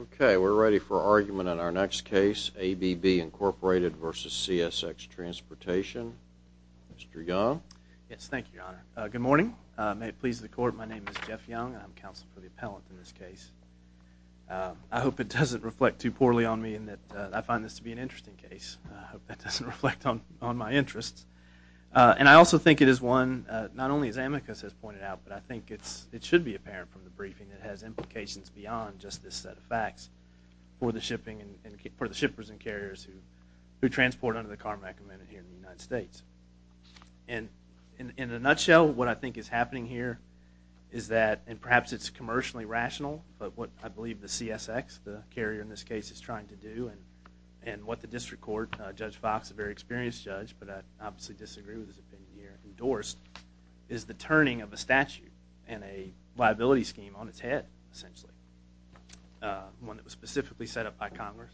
OK, we're ready for argument on our next case, ABB, Inc. v. CSX Transportation. Mr. Young? Yes, thank you, Your Honor. Good morning. May it please the court, my name is Jeff Young. I'm counsel for the appellant in this case. I hope it doesn't reflect too poorly on me in that I find this to be an interesting case. I hope that doesn't reflect on my interests. And I also think it is one, not only as Amicus has pointed out, but I think it should be apparent from the briefing that it has implications beyond just this set of facts for the shippers and carriers who transport under the Carmack Amendment here in the United States. And in a nutshell, what I think is happening here is that, and perhaps it's commercially rational, but what I believe the CSX, the carrier in this case, is trying to do, and what the district court, Judge Fox, a very experienced judge, but I obviously disagree with his opinion here, endorsed, is the turning of a statute and a liability scheme on its head, essentially. One that was specifically set up by Congress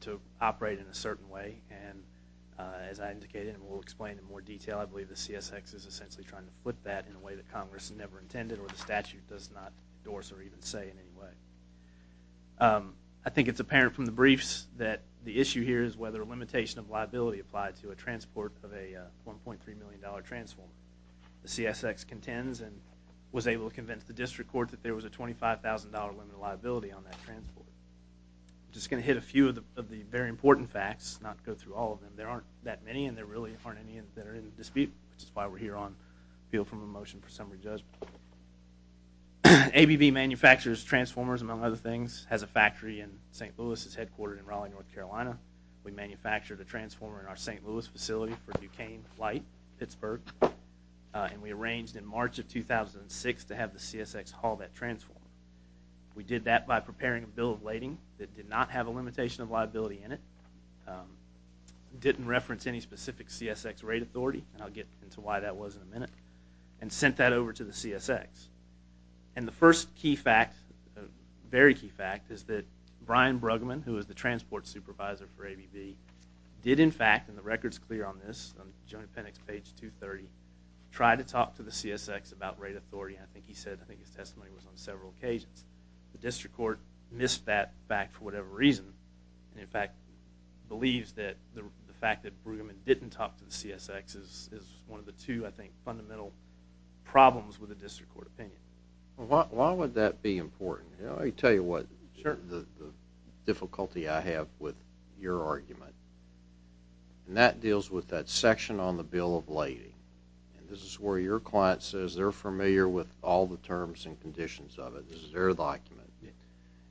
to operate in a certain way. And as I indicated, and we'll explain in more detail, I believe the CSX is essentially trying to flip that in a way that Congress never intended or the statute does not endorse or even say in any way. I think it's apparent from the briefs that the issue here is whether a limitation of liability applied to a transport of a $1.3 million transformer. The CSX contends and was able to convince the district court that there was a $25,000 limit of liability on that transport. Just going to hit a few of the very important facts, not go through all of them. There aren't that many, and there really aren't any that are in dispute, which is why we're here on field from a motion for summary judgment. ABB manufactures transformers, among other things, has a factory in St. Louis. It's headquartered in Raleigh, North Carolina. We manufactured a transformer in our St. Louis facility for Duquesne Flight, Pittsburgh. And we arranged in March of 2006 to have the CSX haul that transformer. We did that by preparing a bill of lading that did not have a limitation of liability in it, didn't reference any specific CSX rate authority, and I'll get into why that was in a minute, and sent that over to the CSX. And the first key fact, very key fact, is that Brian Bruggeman, who is the transport supervisor for ABB, did, in fact, and the record's clear on this, on the Joint Appendix, page 230, try to talk to the CSX about rate authority. I think he said, I think his testimony was on several occasions. The district court missed that fact for whatever reason, and in fact, believes that the fact that Bruggeman didn't talk to the CSX is one of the two, I think, fundamental problems with the district court opinion. Well, why would that be important? Let me tell you what, the difficulty I have with your argument. And that deals with that section on the bill of lading. This is where your client says they're familiar with all the terms and conditions of it. This is their document.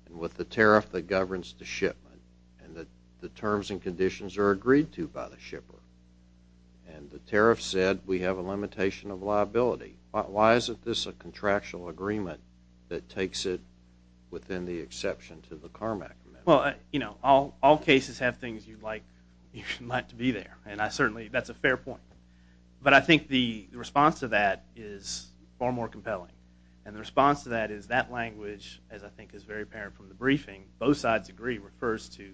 And with the tariff that governs the shipment, and that the terms and conditions are agreed to by the shipper. And the tariff said, we have a limitation of liability. Why isn't this a contractual agreement that takes it within the exception to the Carmack Amendment? All cases have things you'd like to be there. And I certainly, that's a fair point. But I think the response to that is far more compelling. And the response to that is that language, as I think is very apparent from the briefing, both sides agree refers to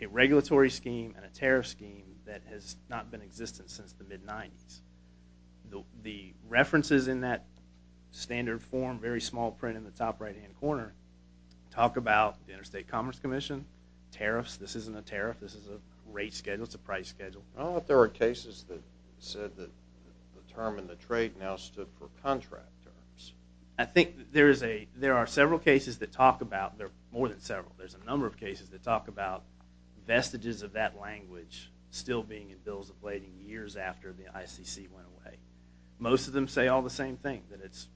a regulatory scheme and a tariff scheme that has not been existent since the mid-'90s. The references in that standard form, very small print in the top right hand corner, talk about the Interstate Commerce Commission, tariffs. This isn't a tariff. This is a rate schedule. It's a price schedule. I don't know if there are cases that said that the term in the trade now stood for contract terms. I think there are several cases that talk about, there are more than several. There's a number of cases that talk about vestiges of that language still being in bills of lading years after the ICC went away. Most of them say all the same thing, that it's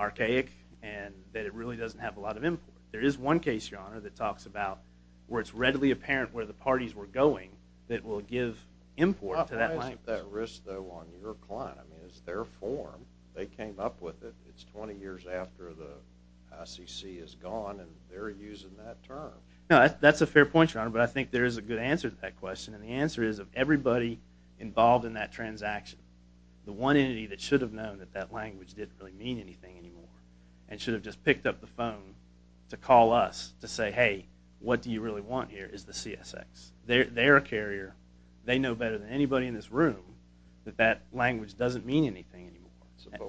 archaic, and that it really doesn't have a lot of import. There is one case, your honor, that talks about where it's readily apparent where the parties were going that will give import to that language. How high is that risk, though, on your client? I mean, it's their form. They came up with it. It's 20 years after the ICC is gone, and they're using that term. No, that's a fair point, your honor. But I think there is a good answer to that question. And the answer is, of everybody involved in that transaction, the one entity that should have known that that language didn't really mean anything anymore and should have just picked up the phone to call us to say, hey, what do you really want here, is the CSX. They're a carrier. They know better than anybody in this room that that language doesn't mean anything anymore.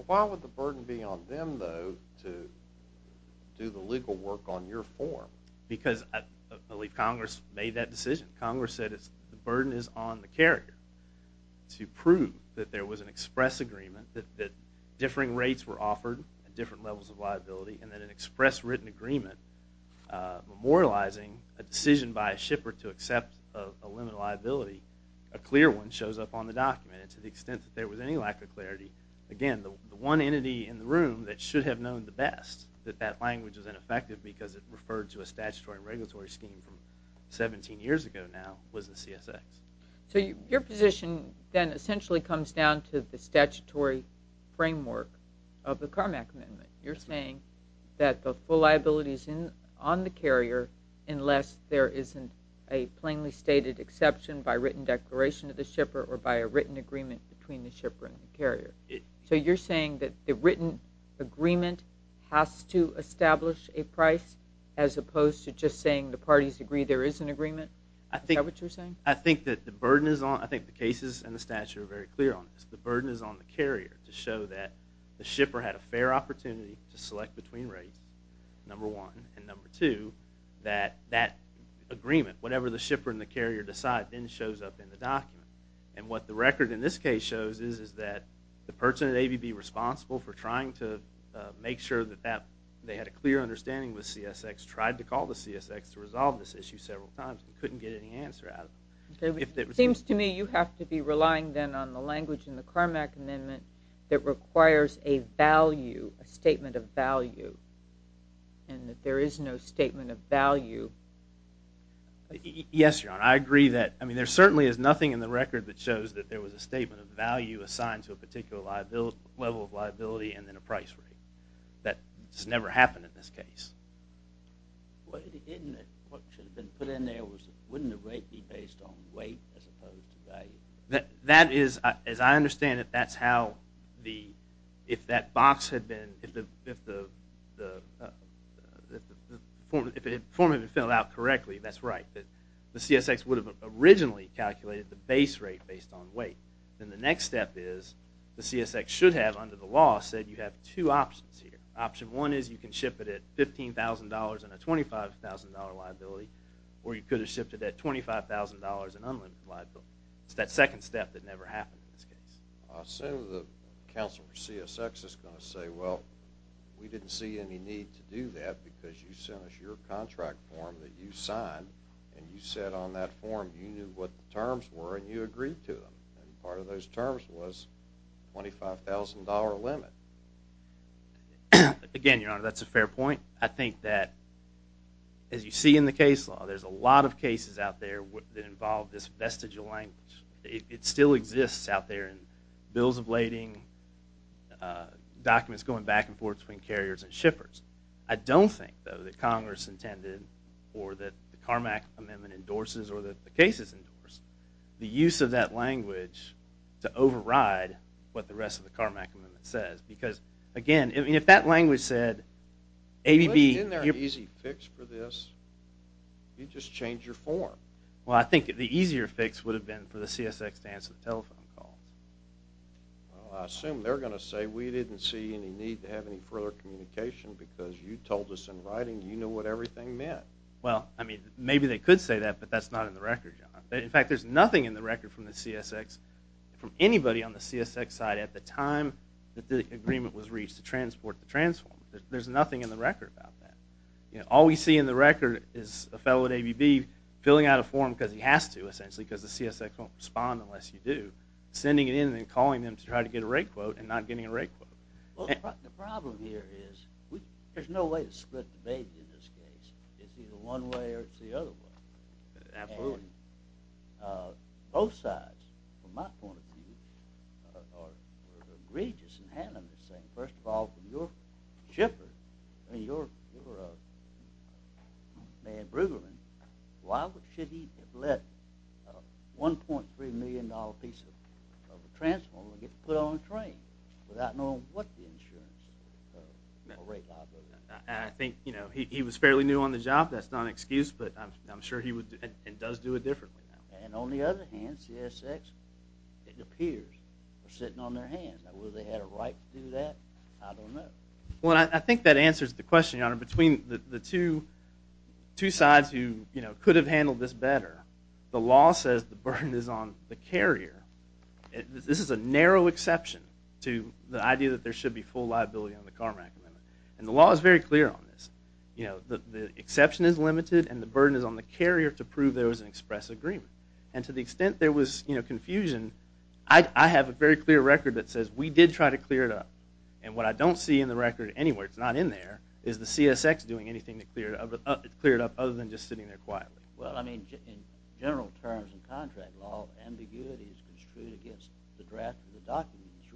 Why would the burden be on them, though, to do the legal work on your form? Because I believe Congress made that decision. Congress said the burden is on the carrier to prove that there was an express agreement, that differing rates were offered at different levels of liability, and that an express written agreement memorializing a decision by a shipper to accept a limited liability, a clear one, shows up on the document. And to the extent that there was any lack of clarity, again, the one entity in the room that should have known the best that that language was ineffective because it referred to a statutory regulatory scheme from 17 years ago now was the CSX. So your position, then, essentially comes down to the statutory framework of the Carmack Amendment. You're saying that the full liability is on the carrier unless there isn't a plainly stated exception by written declaration of the shipper or by a written agreement between the shipper and the carrier. So you're saying that the written agreement has to establish a price, as opposed to just saying the parties agree there is an agreement? Is that what you're saying? I think that the burden is on, I think the cases and the statute are very clear on this. The burden is on the carrier to show that the shipper had a fair opportunity to select between rates, number one, and number two, that that agreement, whatever the shipper and the carrier decide, then shows up in the document. And what the record in this case shows is that the person at ABB responsible for trying to make sure that they had a clear understanding with CSX tried to call the CSX to resolve this issue several times and couldn't get any answer out of it. It seems to me you have to be relying, then, on the language in the Carmack Amendment that requires a value, a statement of value, and that there is no statement of value. Yes, Your Honor, I agree that. I mean, there certainly is nothing in the record that shows that there was a statement of value assigned to a particular level of liability and then a price rate. That's never happened in this case. What should have been put in there wouldn't the rate be based on weight as opposed to value? That is, as I understand it, that's how, if the form had been filled out correctly, that's right. The CSX would have originally calculated the base rate based on weight. Then the next step is the CSX should have, under the law, said you have two options here. Option one is you can ship it at $15,000 and a $25,000 liability, or you could have shipped it at $25,000 and unlimited liability. It's that second step that never happened in this case. So the counsel for CSX is going to say, well, we didn't see any need to do that because you sent us your contract form that you signed, and you said on that form you knew what the terms were, and you agreed to them. Part of those terms was $25,000 limit. Again, Your Honor, that's a fair point. I think that, as you see in the case law, there's a lot of cases out there that involve this vestigial language. It still exists out there in bills of lading, documents going back and forth between carriers and shippers. I don't think, though, that Congress intended, or that the Carmack Amendment endorses, or that the case has endorsed, the use of that language to override what the rest of the Carmack Amendment says. Because, again, if that language said, ABB, Isn't there an easy fix for this? You just change your form. Well, I think the easier fix would have been for the CSX to answer the telephone call. Well, I assume they're going to say, we didn't see any need to have any further communication because you told us in writing you know what everything meant. Well, I mean, maybe they could say that, but that's not in the record, Your Honor. In fact, there's nothing in the record from the CSX from anybody on the CSX side at the time that the agreement was reached to transport the transform. There's nothing in the record about that. All we see in the record is a fellow at ABB filling out a form because he has to, essentially, because the CSX won't respond unless you do, sending it in and then calling them to try to get a rate quote and not getting a rate quote. The problem here is there's no way to split the baby in this case. It's either one way or it's the other way. Absolutely. I mean, both sides, from my point of view, are egregious in handling this thing. First of all, from your shipper, I mean, your man, Brueggemann, why should he let a $1.3 million piece of a transformer get put on a train without knowing what the insurance or rate liability is? I think he was fairly new on the job. That's not an excuse, but I'm sure he would and does do it differently now. And on the other hand, CSX, it appears they're sitting on their hands. Now, will they have a right to do that? I don't know. Well, I think that answers the question, Your Honor. Between the two sides who could have handled this better, the law says the burden is on the carrier. This is a narrow exception to the idea that there should be full liability on the CARMAC amendment. And the law is very clear on this. The exception is limited, and the burden is on the carrier to prove there was an express agreement. And to the extent there was confusion, I have a very clear record that says, we did try to clear it up. And what I don't see in the record anywhere, it's not in there, is the CSX doing anything to clear it up other than just sitting there quietly. Well, I mean, in general terms in contract law, ambiguity is construed against the draft of the document. It's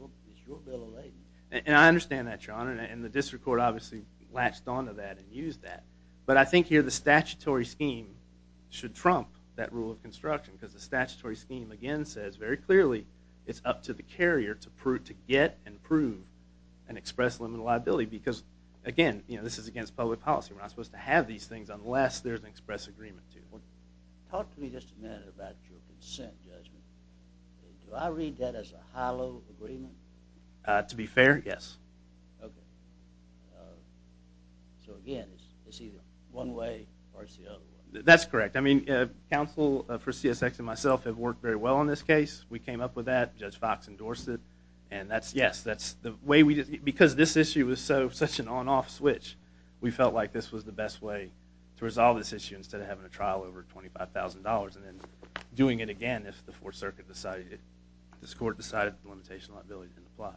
your bill of lading. And I understand that, Your Honor. And the district court obviously latched onto that and used that. But I think here the statutory scheme should trump that rule of construction. Because the statutory scheme, again, says very clearly it's up to the carrier to get and prove an express limited liability. Because, again, this is against public policy. We're not supposed to have these things unless there's an express agreement to it. Talk to me just a minute about your consent judgment. Do I read that as a hollow agreement? To be fair, yes. OK. So again, it's either one way or it's the other way. That's correct. I mean, counsel for CSX and myself have worked very well on this case. We came up with that. Judge Fox endorsed it. And yes, because this issue was such an on-off switch, we felt like this was the best way to resolve this issue instead of having a trial over $25,000 and then doing it again if this court decided to limit liability in the plot.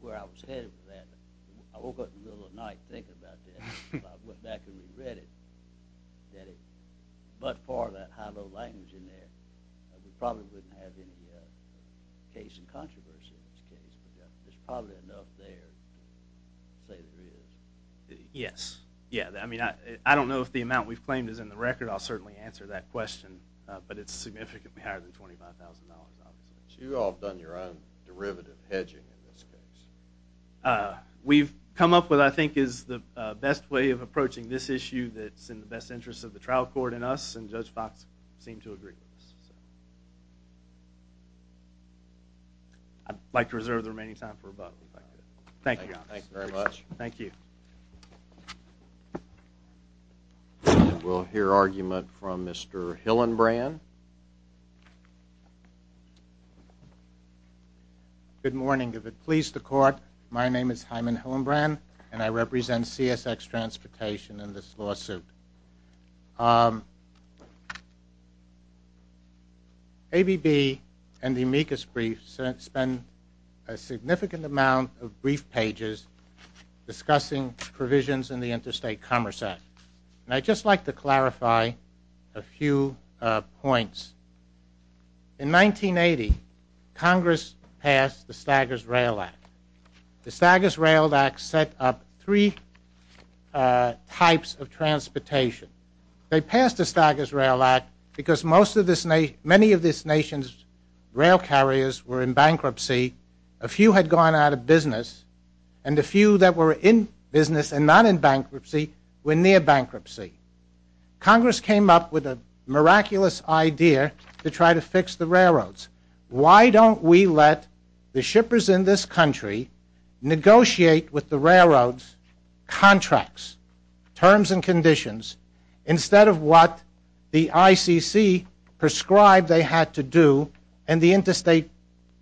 Where I was headed with that, I woke up in the middle of the night thinking about that. I went back and re-read it. But for that high-low language in there, we probably wouldn't have any case and controversy in this case. There's probably enough there to say there is. Yes. Yeah, I mean, I don't know if the amount we've claimed is in the record. I'll certainly answer that question. But it's significantly higher than $25,000, obviously. So you all have done your own derivative hedging in this case. We've come up with what I think is the best way of approaching this issue that's in the best interest of the trial court and us. And Judge Fox seemed to agree with us. I'd like to reserve the remaining time for rebuttal. Thank you, Your Honor. Thank you very much. Thank you. Thank you. We'll hear argument from Mr. Hillenbrand. Good morning. If it please the court, my name is Hyman Hillenbrand, and I represent CSX Transportation in this lawsuit. ABB and the amicus brief spend a significant amount of brief pages discussing provisions in the Interstate Commerce Act. And I'd just like to clarify a few points. In 1980, Congress passed the Staggers Rail Act. The Staggers Rail Act set up three types of transportation. They passed the Staggers Rail Act because many of this nation's rail carriers were in bankruptcy. A few had gone out of business, and a few that were in business and not in bankruptcy were near bankruptcy. Congress came up with a miraculous idea to try to fix the railroads. Why don't we let the shippers in this country negotiate with the railroads contracts, terms and conditions, instead of what the ICC prescribed they had to do, and the Interstate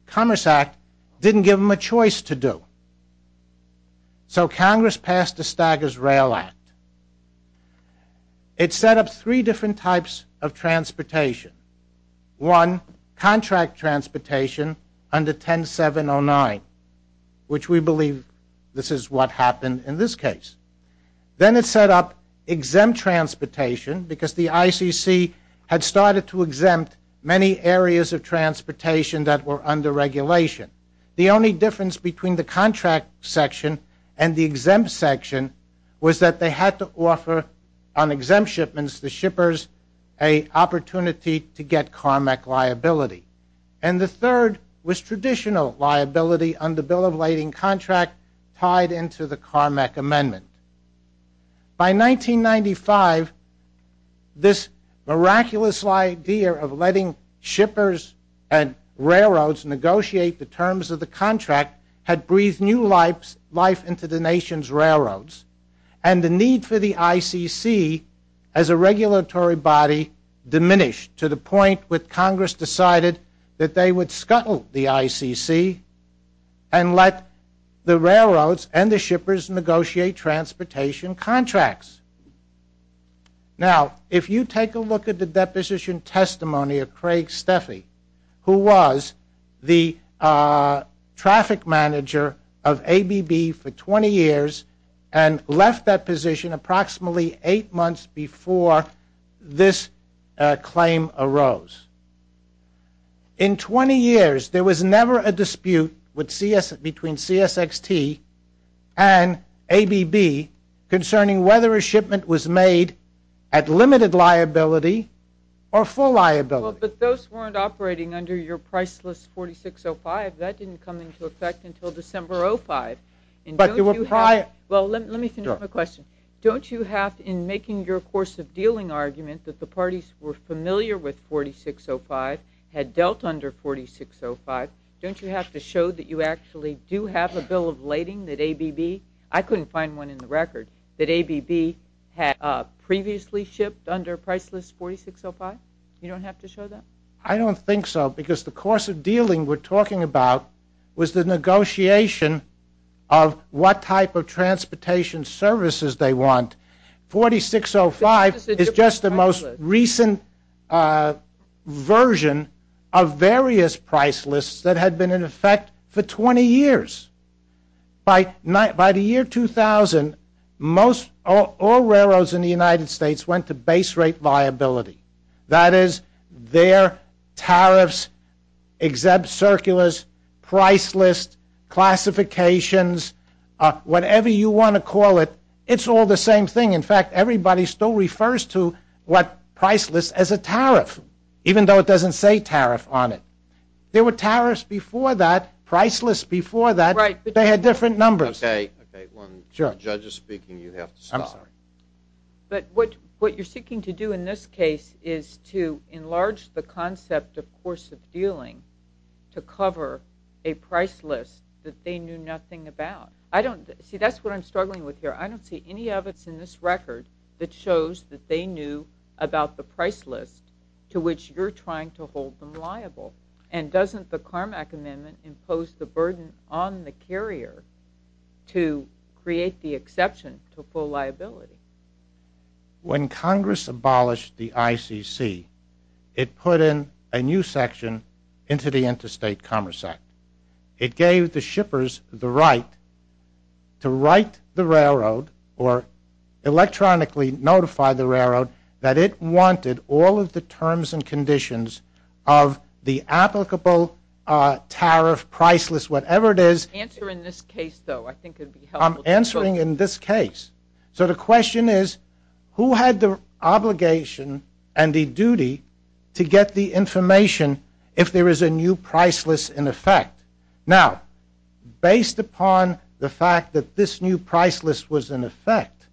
Commerce Act didn't give them a choice to do? So Congress passed the Staggers Rail Act. It set up three different types of transportation. One, contract transportation under 10709, which we believe this is what happened in this case. Then it set up exempt transportation because the ICC had started to exempt many areas of transportation that were under regulation. The only difference between the contract section and the exempt section was that they had to offer on exempt shipments the shippers a opportunity to get CARMEC liability. And the third was traditional liability on the bill of lading contract tied into the CARMEC amendment. By 1995, this miraculous idea of letting shippers and railroads negotiate the terms of the contract had breathed new life into the nation's railroads. And the need for the ICC as a regulatory body diminished to the point with Congress decided that they would scuttle the ICC and let the railroads and the shippers negotiate transportation contracts. Now, if you take a look at the deposition testimony of Craig Steffi, who was the traffic manager of ABB for 20 years and left that position approximately eight months before this claim arose. In 20 years, there was never a dispute between CSXT and ABB concerning whether a shipment was made at limited liability or full liability. But those weren't operating under your priceless 4605. That didn't come into effect until December 05. Well, let me finish my question. Don't you have in making your course of dealing argument that the parties were familiar with 4605, had dealt under 4605. Don't you have to show that you actually do have a bill of lading that ABB? I couldn't find one in the record that ABB had previously shipped under priceless 4605. You don't have to show that? I don't think so. Because the course of dealing we're talking about was the negotiation of what type of transportation services they want. 4605 is just the most recent version of various priceless that had been in effect for 20 years. By the year 2000, all railroads in the United States went to base rate viability. That is, their tariffs, exempt circulars, priceless, classifications, whatever you want to call it, it's all the same thing. In fact, everybody still refers to what priceless as a tariff, even though it doesn't say tariff on it. There were tariffs before that, priceless before that. They had different numbers. OK, when the judge is speaking, you have to stop. But what you're seeking to do in this case is to enlarge the concept of course of dealing to cover a priceless that they knew nothing about. See, that's what I'm struggling with here. I don't see any of it's in this record that shows that they knew about the priceless to which you're trying to hold them liable. And doesn't the Carmack Amendment impose the burden on the carrier to create the exception to full liability? When Congress abolished the ICC, it put in a new section into the Interstate Commerce Act. It gave the shippers the right to write the railroad or electronically notify the railroad that it wanted all of the terms and conditions of the applicable tariff, priceless, whatever it is. Answer in this case, though. I think it would be helpful. I'm answering in this case. So the question is, who had the obligation and the duty to get the information if there is a new priceless in effect? Now, based upon the fact that this new priceless was in effect,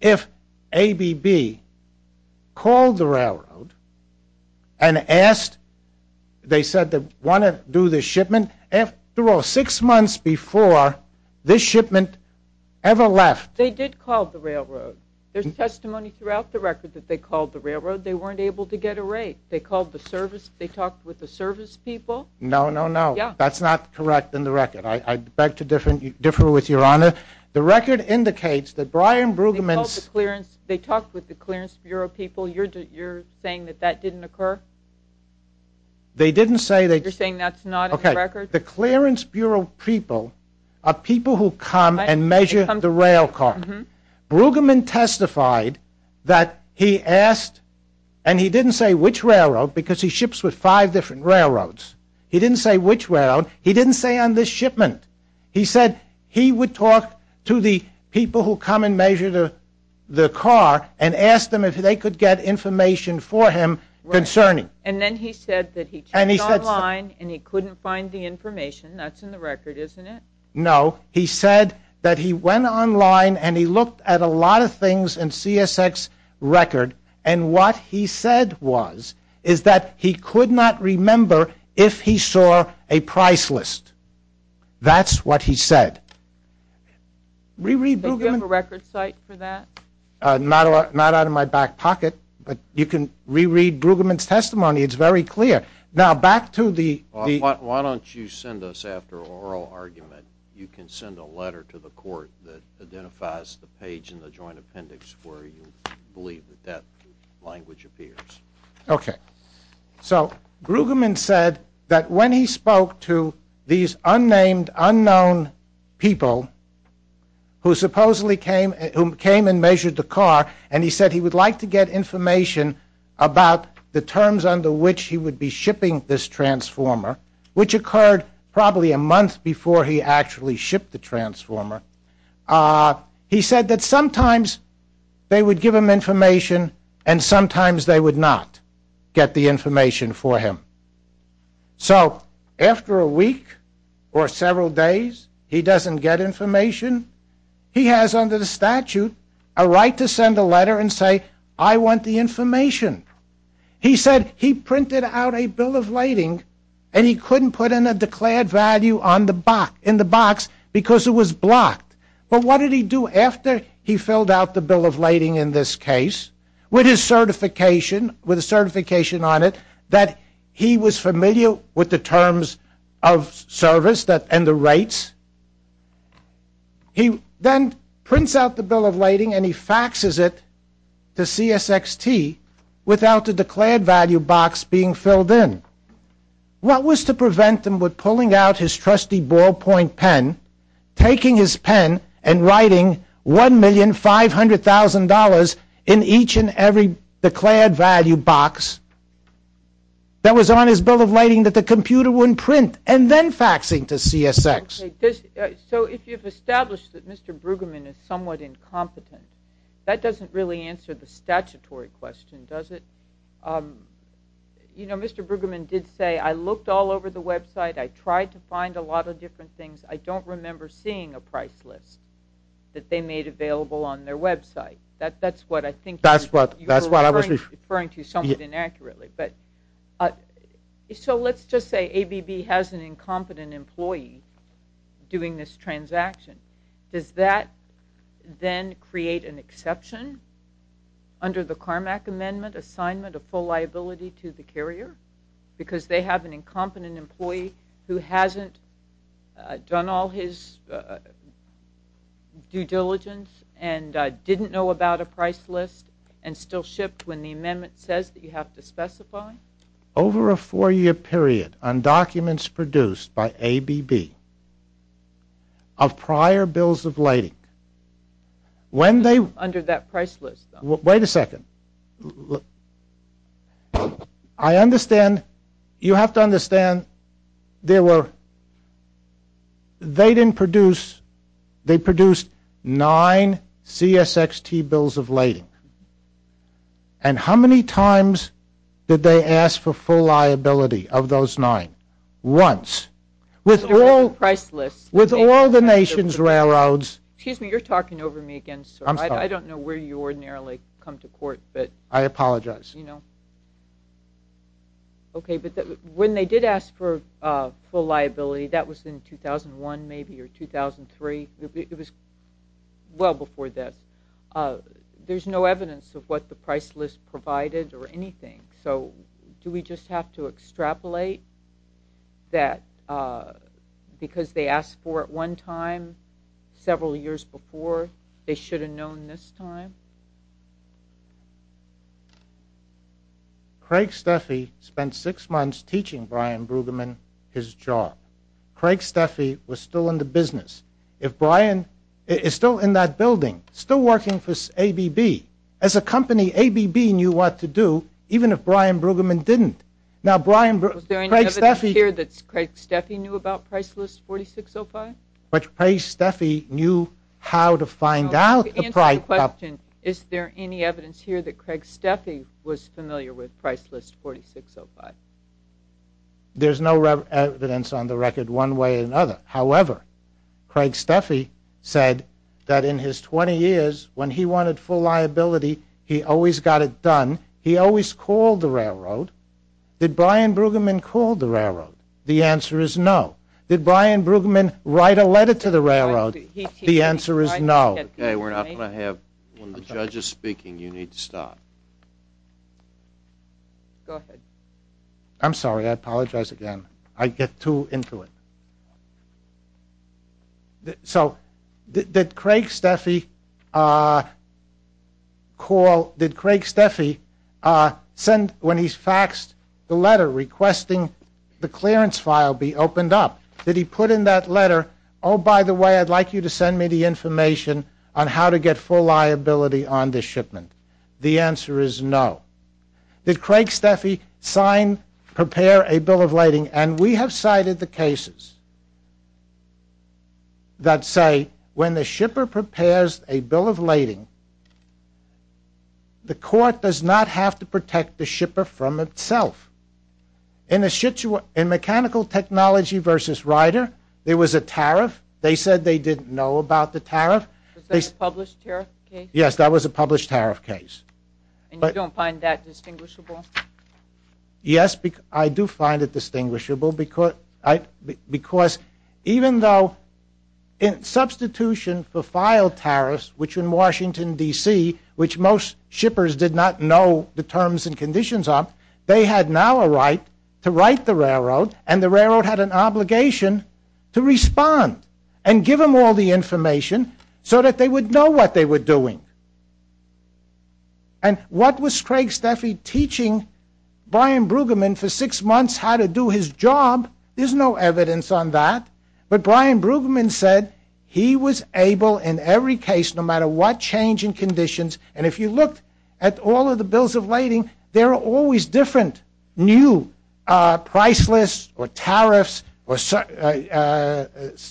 if ABB called the railroad and asked, they said they want to do this shipment, after all, six months before this shipment ever left. They did call the railroad. There's testimony throughout the record that they called the railroad. They weren't able to get a rate. They called the service. They talked with the service people. No, no, no. That's not correct in the record. I beg to differ with your honor. The record indicates that Brian Brueggemann's. They talked with the clearance bureau people. You're saying that that didn't occur? They didn't say that. You're saying that's not in the record? The clearance bureau people are people who come and measure the rail car. Brueggemann testified that he asked, and he didn't say which railroad because he ships with five different railroads. He didn't say which railroad. He didn't say on this shipment. He said he would talk to the people who come and measure the car and ask them if they could get information for him concerning. And then he said that he checked online and he couldn't find the information. That's in the record, isn't it? No, he said that he went online and he looked at a lot of things in CSX record. And what he said was is that he could not remember if he saw a price list. That's what he said. Reread Brueggemann's testimony. Do you have a record site for that? Not out of my back pocket, but you can reread Brueggemann's testimony. It's very clear. Now back to the- Why don't you send us, after an oral argument, you can send a letter to the court that identifies the page in the joint appendix where you believe that that language appears. OK. So Brueggemann said that when he spoke to these unnamed, unknown people who supposedly came and measured the car, and he said he would like to get information about the terms under which he would be shipping this transformer, which occurred probably a month before he actually shipped the transformer. He said that sometimes they would give him information and sometimes they would not. Get the information for him. So after a week or several days, he doesn't get information. He has under the statute a right to send a letter and say, I want the information. He said he printed out a bill of lading and he couldn't put in a declared value in the box because it was blocked. But what did he do after he filled out the bill of lading in this case? With his certification, with a certification on it, that he was familiar with the terms of service and the rates, he then prints out the bill of lading and he faxes it to CSXT without the declared value box being filled in. What was to prevent him with pulling out his trusty ball of $100,000 in each and every declared value box that was on his bill of lading that the computer wouldn't print and then faxing to CSX? So if you've established that Mr. Brueggemann is somewhat incompetent, that doesn't really answer the statutory question, does it? Mr. Brueggemann did say, I looked all over the website. I tried to find a lot of different things. I don't remember seeing a price list that they made available on their website. That's what I think you're referring to somewhat inaccurately. So let's just say ABB has an incompetent employee doing this transaction. Does that then create an exception under the Carmack amendment, assignment of full liability to the carrier? Because they have an incompetent employee who hasn't done all his due diligence and didn't know about a price list and still shipped when the amendment says that you have to specify? Over a four-year period on documents produced by ABB of prior bills of lading, when they Under that price list, though. Wait a second. Look. I understand, you have to understand, they didn't produce, they produced nine CSXT bills of lading. And how many times did they ask for full liability of those nine? Once. With all the nation's railroads. Excuse me, you're talking over me again, sir. I don't know where you ordinarily come to court, but. I apologize. OK, but when they did ask for full liability, that was in 2001, maybe, or 2003. It was well before this. There's no evidence of what the price list provided or anything. So do we just have to extrapolate that because they asked for it one time several years before, they should have known this time? Craig Steffi spent six months teaching Brian Brueggemann his job. Craig Steffi was still in the business. If Brian is still in that building, still working for ABB. As a company, ABB knew what to do, even if Brian Brueggemann didn't. Now, Brian Brueggemann. Was there any evidence here that Craig Steffi knew about price list 4605? But Craig Steffi knew how to find out the price. Is there any evidence here that Craig Steffi was familiar with price list 4605? There's no evidence on the record one way or another. However, Craig Steffi said that in his 20 years, when he wanted full liability, he always got it done. He always called the railroad. Did Brian Brueggemann called the railroad? The answer is no. Did Brian Brueggemann write a letter to the railroad? The answer is no. OK, we're not going to have one of the judges speaking. You need to stop. I'm sorry. I apologize again. I get too into it. So did Craig Steffi call, did Craig Steffi send when he faxed the letter requesting the clearance file be opened up? Did he put in that letter, oh, by the way, I'd like you to send me the information on how to get full liability on this shipment? The answer is no. Did Craig Steffi sign, prepare a bill of lading? And we have cited the cases that say when the shipper prepares a bill of lading, the court does not have to protect the shipper from itself. In mechanical technology versus Ryder, there was a tariff. They said they didn't know about the tariff. Was that a published tariff case? Yes, that was a published tariff case. And you don't find that distinguishable? Yes, I do find it distinguishable. Because even though in substitution for filed tariffs, which in Washington DC, which most shippers did not know the terms and conditions of, they had now a right to write the railroad. And the railroad had an obligation to respond and give them all the information so that they would know what they were doing. And what was Craig Steffi teaching Brian Brueggemann for six months how to do his job? There's no evidence on that. But Brian Brueggemann said he was able in every case, no matter what change in conditions. And if you looked at all of the bills of lading, there are always different new priceless or tariffs or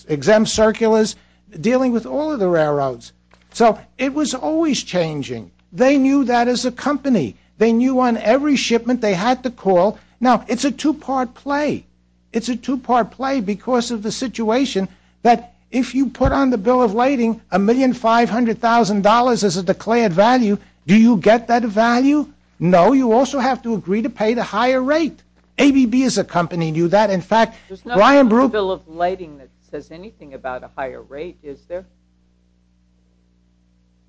exempt circulars dealing with all of the railroads. So it was always changing. They knew that as a company. They knew on every shipment they had to call. Now, it's a two-part play. It's a two-part play because of the situation that if you put on the bill of lading $1,500,000 as a declared value, do you get that value? No, you also have to agree to pay the higher rate. ABB is accompanying you that. In fact, Brian Brueggemann. There's no bill of lading that says anything about a higher rate, is there?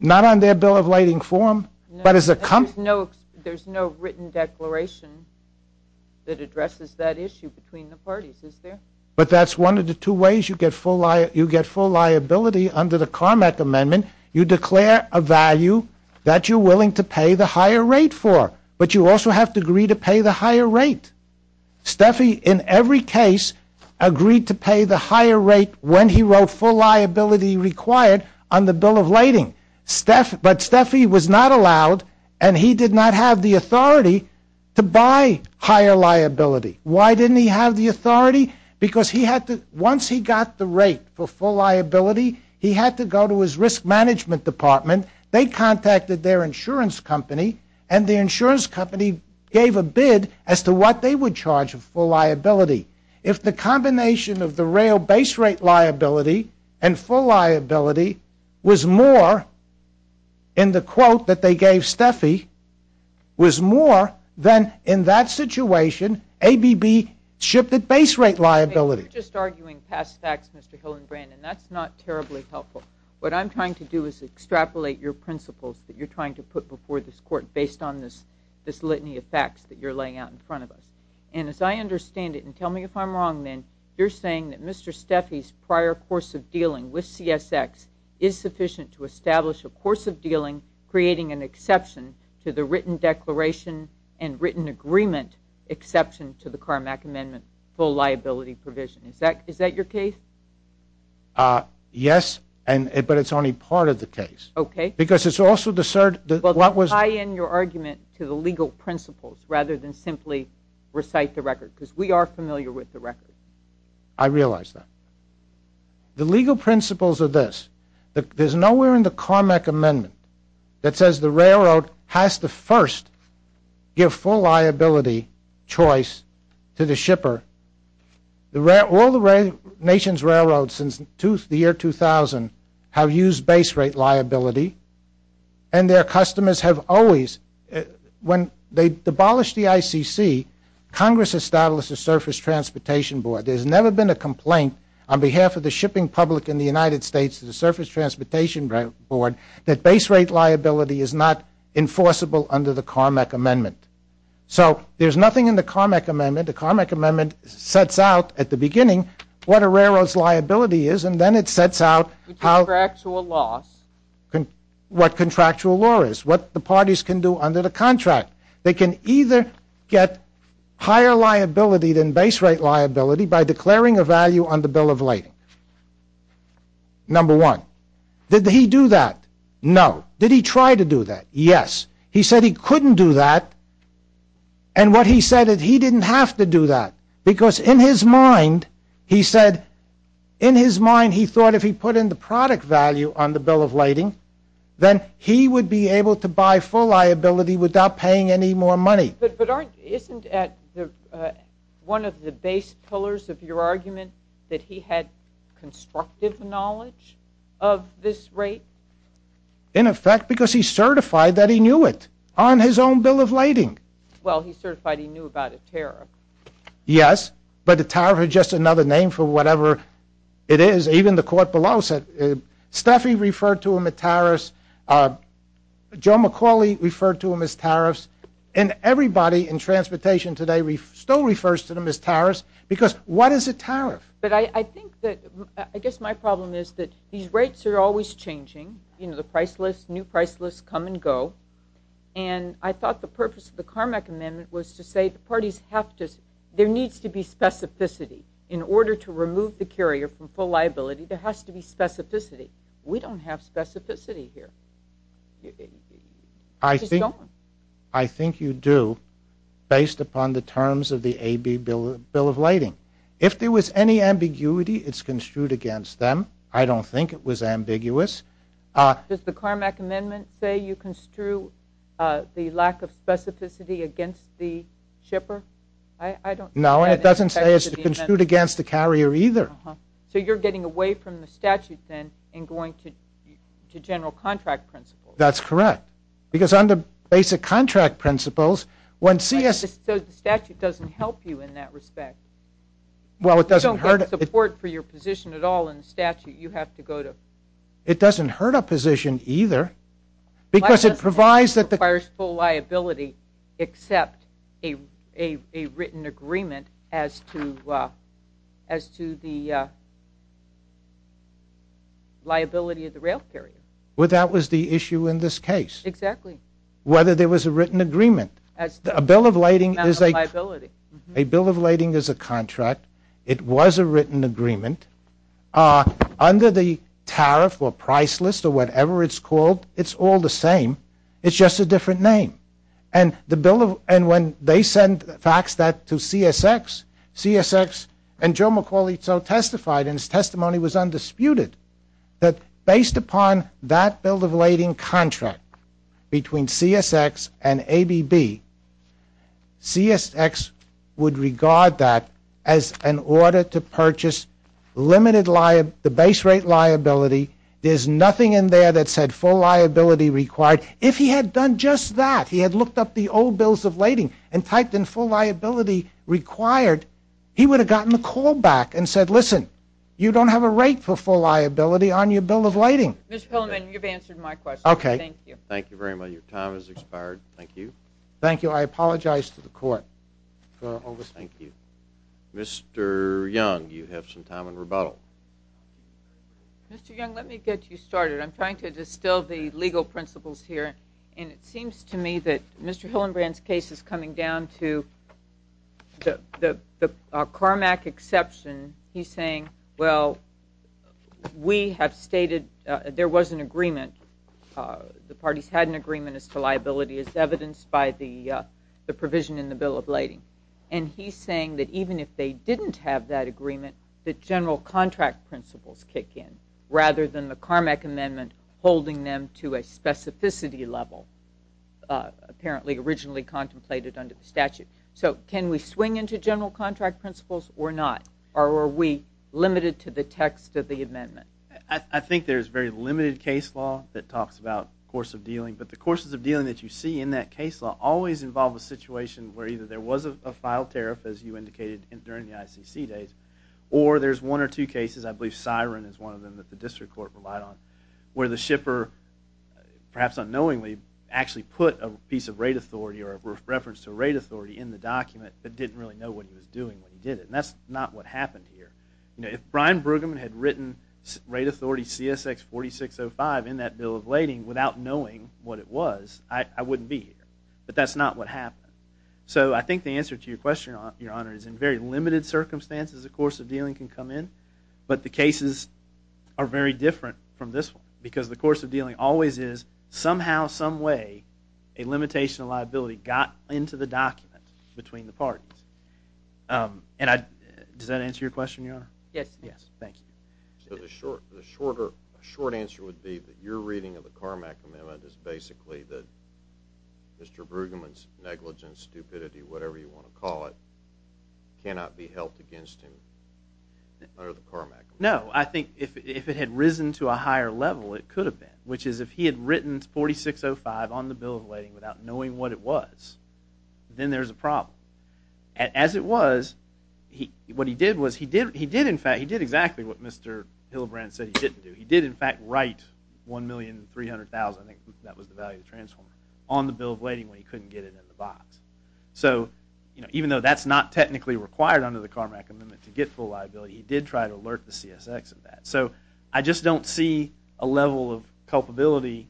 Not on their bill of lading form, but as a company. There's no written declaration that addresses that issue between the parties, is there? But that's one of the two ways you get full liability. Under the Carmack Amendment, you declare a value that you're willing to pay the higher rate for. But you also have to agree to pay the higher rate. Steffi, in every case, agreed to pay the higher rate when he wrote full liability required on the bill of lading. But Steffi was not allowed, and he did not have the authority to buy higher liability. Why didn't he have the authority? Because once he got the rate for full liability, he had to go to his risk management department. They contacted their insurance company, and the insurance company gave a bid as to what they would charge for liability. If the combination of the real base rate liability and full liability was more in the quote that they gave Steffi, was more than in that situation, ABB shipped at base rate liability. You're just arguing past facts, Mr. Hill and Brandon. That's not terribly helpful. What I'm trying to do is extrapolate your principles that you're trying to put before this court based on this litany of facts that you're laying out in front of us. And as I understand it, and tell me if I'm wrong then, you're saying that Mr. Steffi's prior course of dealing with CSX is sufficient to establish a course of dealing creating an exception to the written declaration and written agreement exception to the Carmack Amendment full liability provision. Is that your case? Yes, but it's only part of the case. OK. Because it's also the cert that what was- Well, tie in your argument to the legal principles rather than simply recite the record, because we are familiar with the record. I realize that. The legal principles are this. There's nowhere in the Carmack Amendment that says the railroad has to first give full liability choice to the shipper. All the nation's railroads since the year 2000 have used base rate liability. And their customers have always, when they abolished the ICC, Congress established a Surface Transportation Board. There's never been a complaint on behalf of the shipping public in the United States to the Surface Transportation Board that base rate liability is not enforceable under the Carmack Amendment. So there's nothing in the Carmack Amendment. The Carmack Amendment sets out at the beginning what a railroad's liability is. And then it sets out how- Contractual loss. What contractual law is, what the parties can do under the contract. They can either get higher liability than base rate liability by declaring a value on the bill of lading. Number one. Did he do that? No. Did he try to do that? Yes. He said he couldn't do that. And what he said is he didn't have to do that. Because in his mind, he said, in his mind, he thought if he put in the product value on the bill of lading, then he would be able to buy full liability without paying any more money. But isn't that one of the base pillars of your argument that he had constructive knowledge of this rate? In effect, because he certified that he knew it on his own bill of lading. Well, he certified he knew about a tariff. Yes. But a tariff is just another name for whatever it is. Even the court below said Steffi referred to him a tariff. Joe McCauley referred to him as tariffs. And everybody in transportation today still refers to them as tariffs. Because what is a tariff? But I think that, I guess my problem is that these rates are always changing. The price lists, new price lists come and go. And I thought the purpose of the Carmack Amendment was to say the parties have to, there needs to be specificity. In order to remove the carrier from full liability, there has to be specificity. We don't have specificity here. I think you do, based upon the terms of the AB bill of lading. If there was any ambiguity, it's construed against them. I don't think it was ambiguous. Does the Carmack Amendment say you construe the lack of specificity against the shipper? I don't know. No, it doesn't say it's construed against the carrier either. So you're getting away from the statute then and going to general contract principles. That's correct. Because under basic contract principles, when CS. So the statute doesn't help you in that respect. Well, it doesn't hurt. You don't get support for your position at all in the statute. You have to go to. It doesn't hurt a position either. Because it provides that the. Requires full liability except a written agreement as to the liability of the rail carrier. Well, that was the issue in this case. Exactly. Whether there was a written agreement. A bill of lading is a contract. It was a written agreement. Under the tariff or price list or whatever it's called, it's all the same. It's just a different name. And when they sent facts that to CSX, CSX and Joe McCauley so testified in his testimony was undisputed that based upon that bill of lading contract between CSX and ABB, CSX would regard that as an order to purchase the base rate liability. There's nothing in there that said full liability required. If he had done just that, he had looked up the old bills of lading and typed in full liability required, he would have gotten a call back and said, listen, you don't have a rate for full liability on your bill of lading. Mr. Pillerman, you've answered my question. Thank you. Thank you very much. Your time has expired. Thank you. Thank you. I apologize to the court. Thank you. Mr. Young, you have some time in rebuttal. Mr. Young, let me get you started. I'm trying to distill the legal principles here. And it seems to me that Mr. Hillenbrand's case is coming down to the Carmack exception. He's saying, well, we have stated there was an agreement. The parties had an agreement as to liability as evidenced by the provision in the bill of lading. And he's saying that even if they didn't have that agreement, the general contract principles kick in, rather than the Carmack amendment holding them to a specificity level, apparently originally contemplated under the statute. So can we swing into general contract principles or not? Or are we limited to the text of the amendment? I think there's very limited case law that talks about the course of dealing. But the courses of dealing that you see in that case law always involve a situation where either there was a filed tariff, as you indicated during the ICC days, or there's one or two cases, I believe Siren is one of them that the district court relied on, where the shipper, perhaps unknowingly, actually put a piece of rate authority or a reference to rate authority in the document but didn't really know what he was doing when he did it. And that's not what happened here. If Brian Brueggemann had written rate authority CSX 4605 in that bill of lading without knowing what it was, I wouldn't be here. But that's not what happened. So I think the answer to your question, Your Honor, is in very limited circumstances, a course of dealing can come in. But the cases are very different from this one. Because the course of dealing always is, somehow, some way, a limitation of liability got into the document between the parties. And does that answer your question, Your Honor? Yes. Yes. Thank you. So the short answer would be that your reading of the Carmack Amendment is basically that Mr. Brueggemann's negligence, stupidity, whatever you want to call it, cannot be held against him under the Carmack Amendment. No. I think if it had risen to a higher level, it could have been. Which is, if he had written 4605 on the bill of lading without knowing what it was, then there's a problem. As it was, what he did was he did, in fact, he did exactly what Mr. Hillibrand said he didn't do. He did, in fact, write $1,300,000, I think that was the value of the transformer, on the bill of lading when he couldn't get it in the box. So even though that's not technically required under the Carmack Amendment to get full liability, he did try to alert the CSX of that. So I just don't see a level of culpability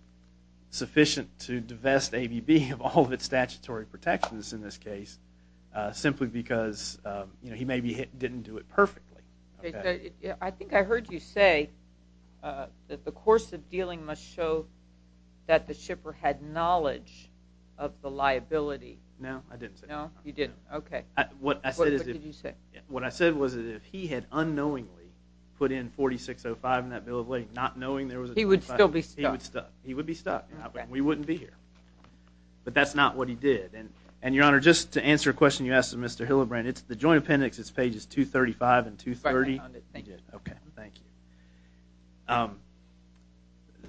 sufficient to divest ABB of all of its statutory protections in this case, simply because he maybe didn't do it perfectly. I think I heard you say that the course of dealing must show that the shipper had knowledge of the liability. No, I didn't say that. No, you didn't. OK. What I said is if he had unknowingly put in 4605 in that bill of lading, not knowing there was a $2,500. He would still be stuck. He would be stuck. We wouldn't be here. But that's not what he did. And Your Honor, just to answer a question you asked of Mr. Hillibrand, it's the joint appendix. It's pages 235 and 230. Right behind it. Thank you. OK. Thank you.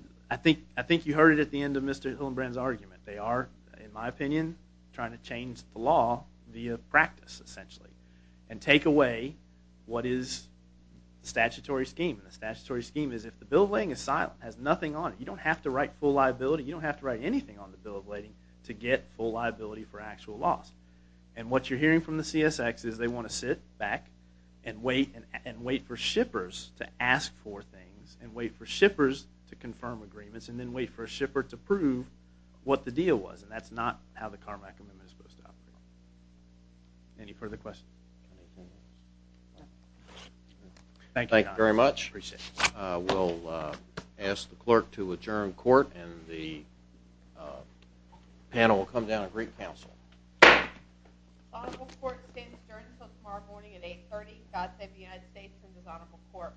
I think you heard it at the end of Mr. Hillibrand's argument. They are, in my opinion, trying to change the law via practice, essentially, and take away what is the statutory scheme. And the statutory scheme is if the bill of lading is silent, has nothing on it, you don't have to write full liability. You don't have to write anything on the bill of lading to get full liability for actual loss. And what you're hearing from the CSX is they want to sit back and wait for shippers to ask for things, and wait for shippers to confirm agreements, and then wait for a shipper to prove what the deal was. And that's not how the Carmack Amendment is supposed to operate. Any further questions? Thank you, Your Honor. Appreciate it. We'll ask the clerk to adjourn court. And the panel will come down and greet counsel. This honorable court is adjourned until tomorrow morning at 8.30. God save the United States and this honorable court.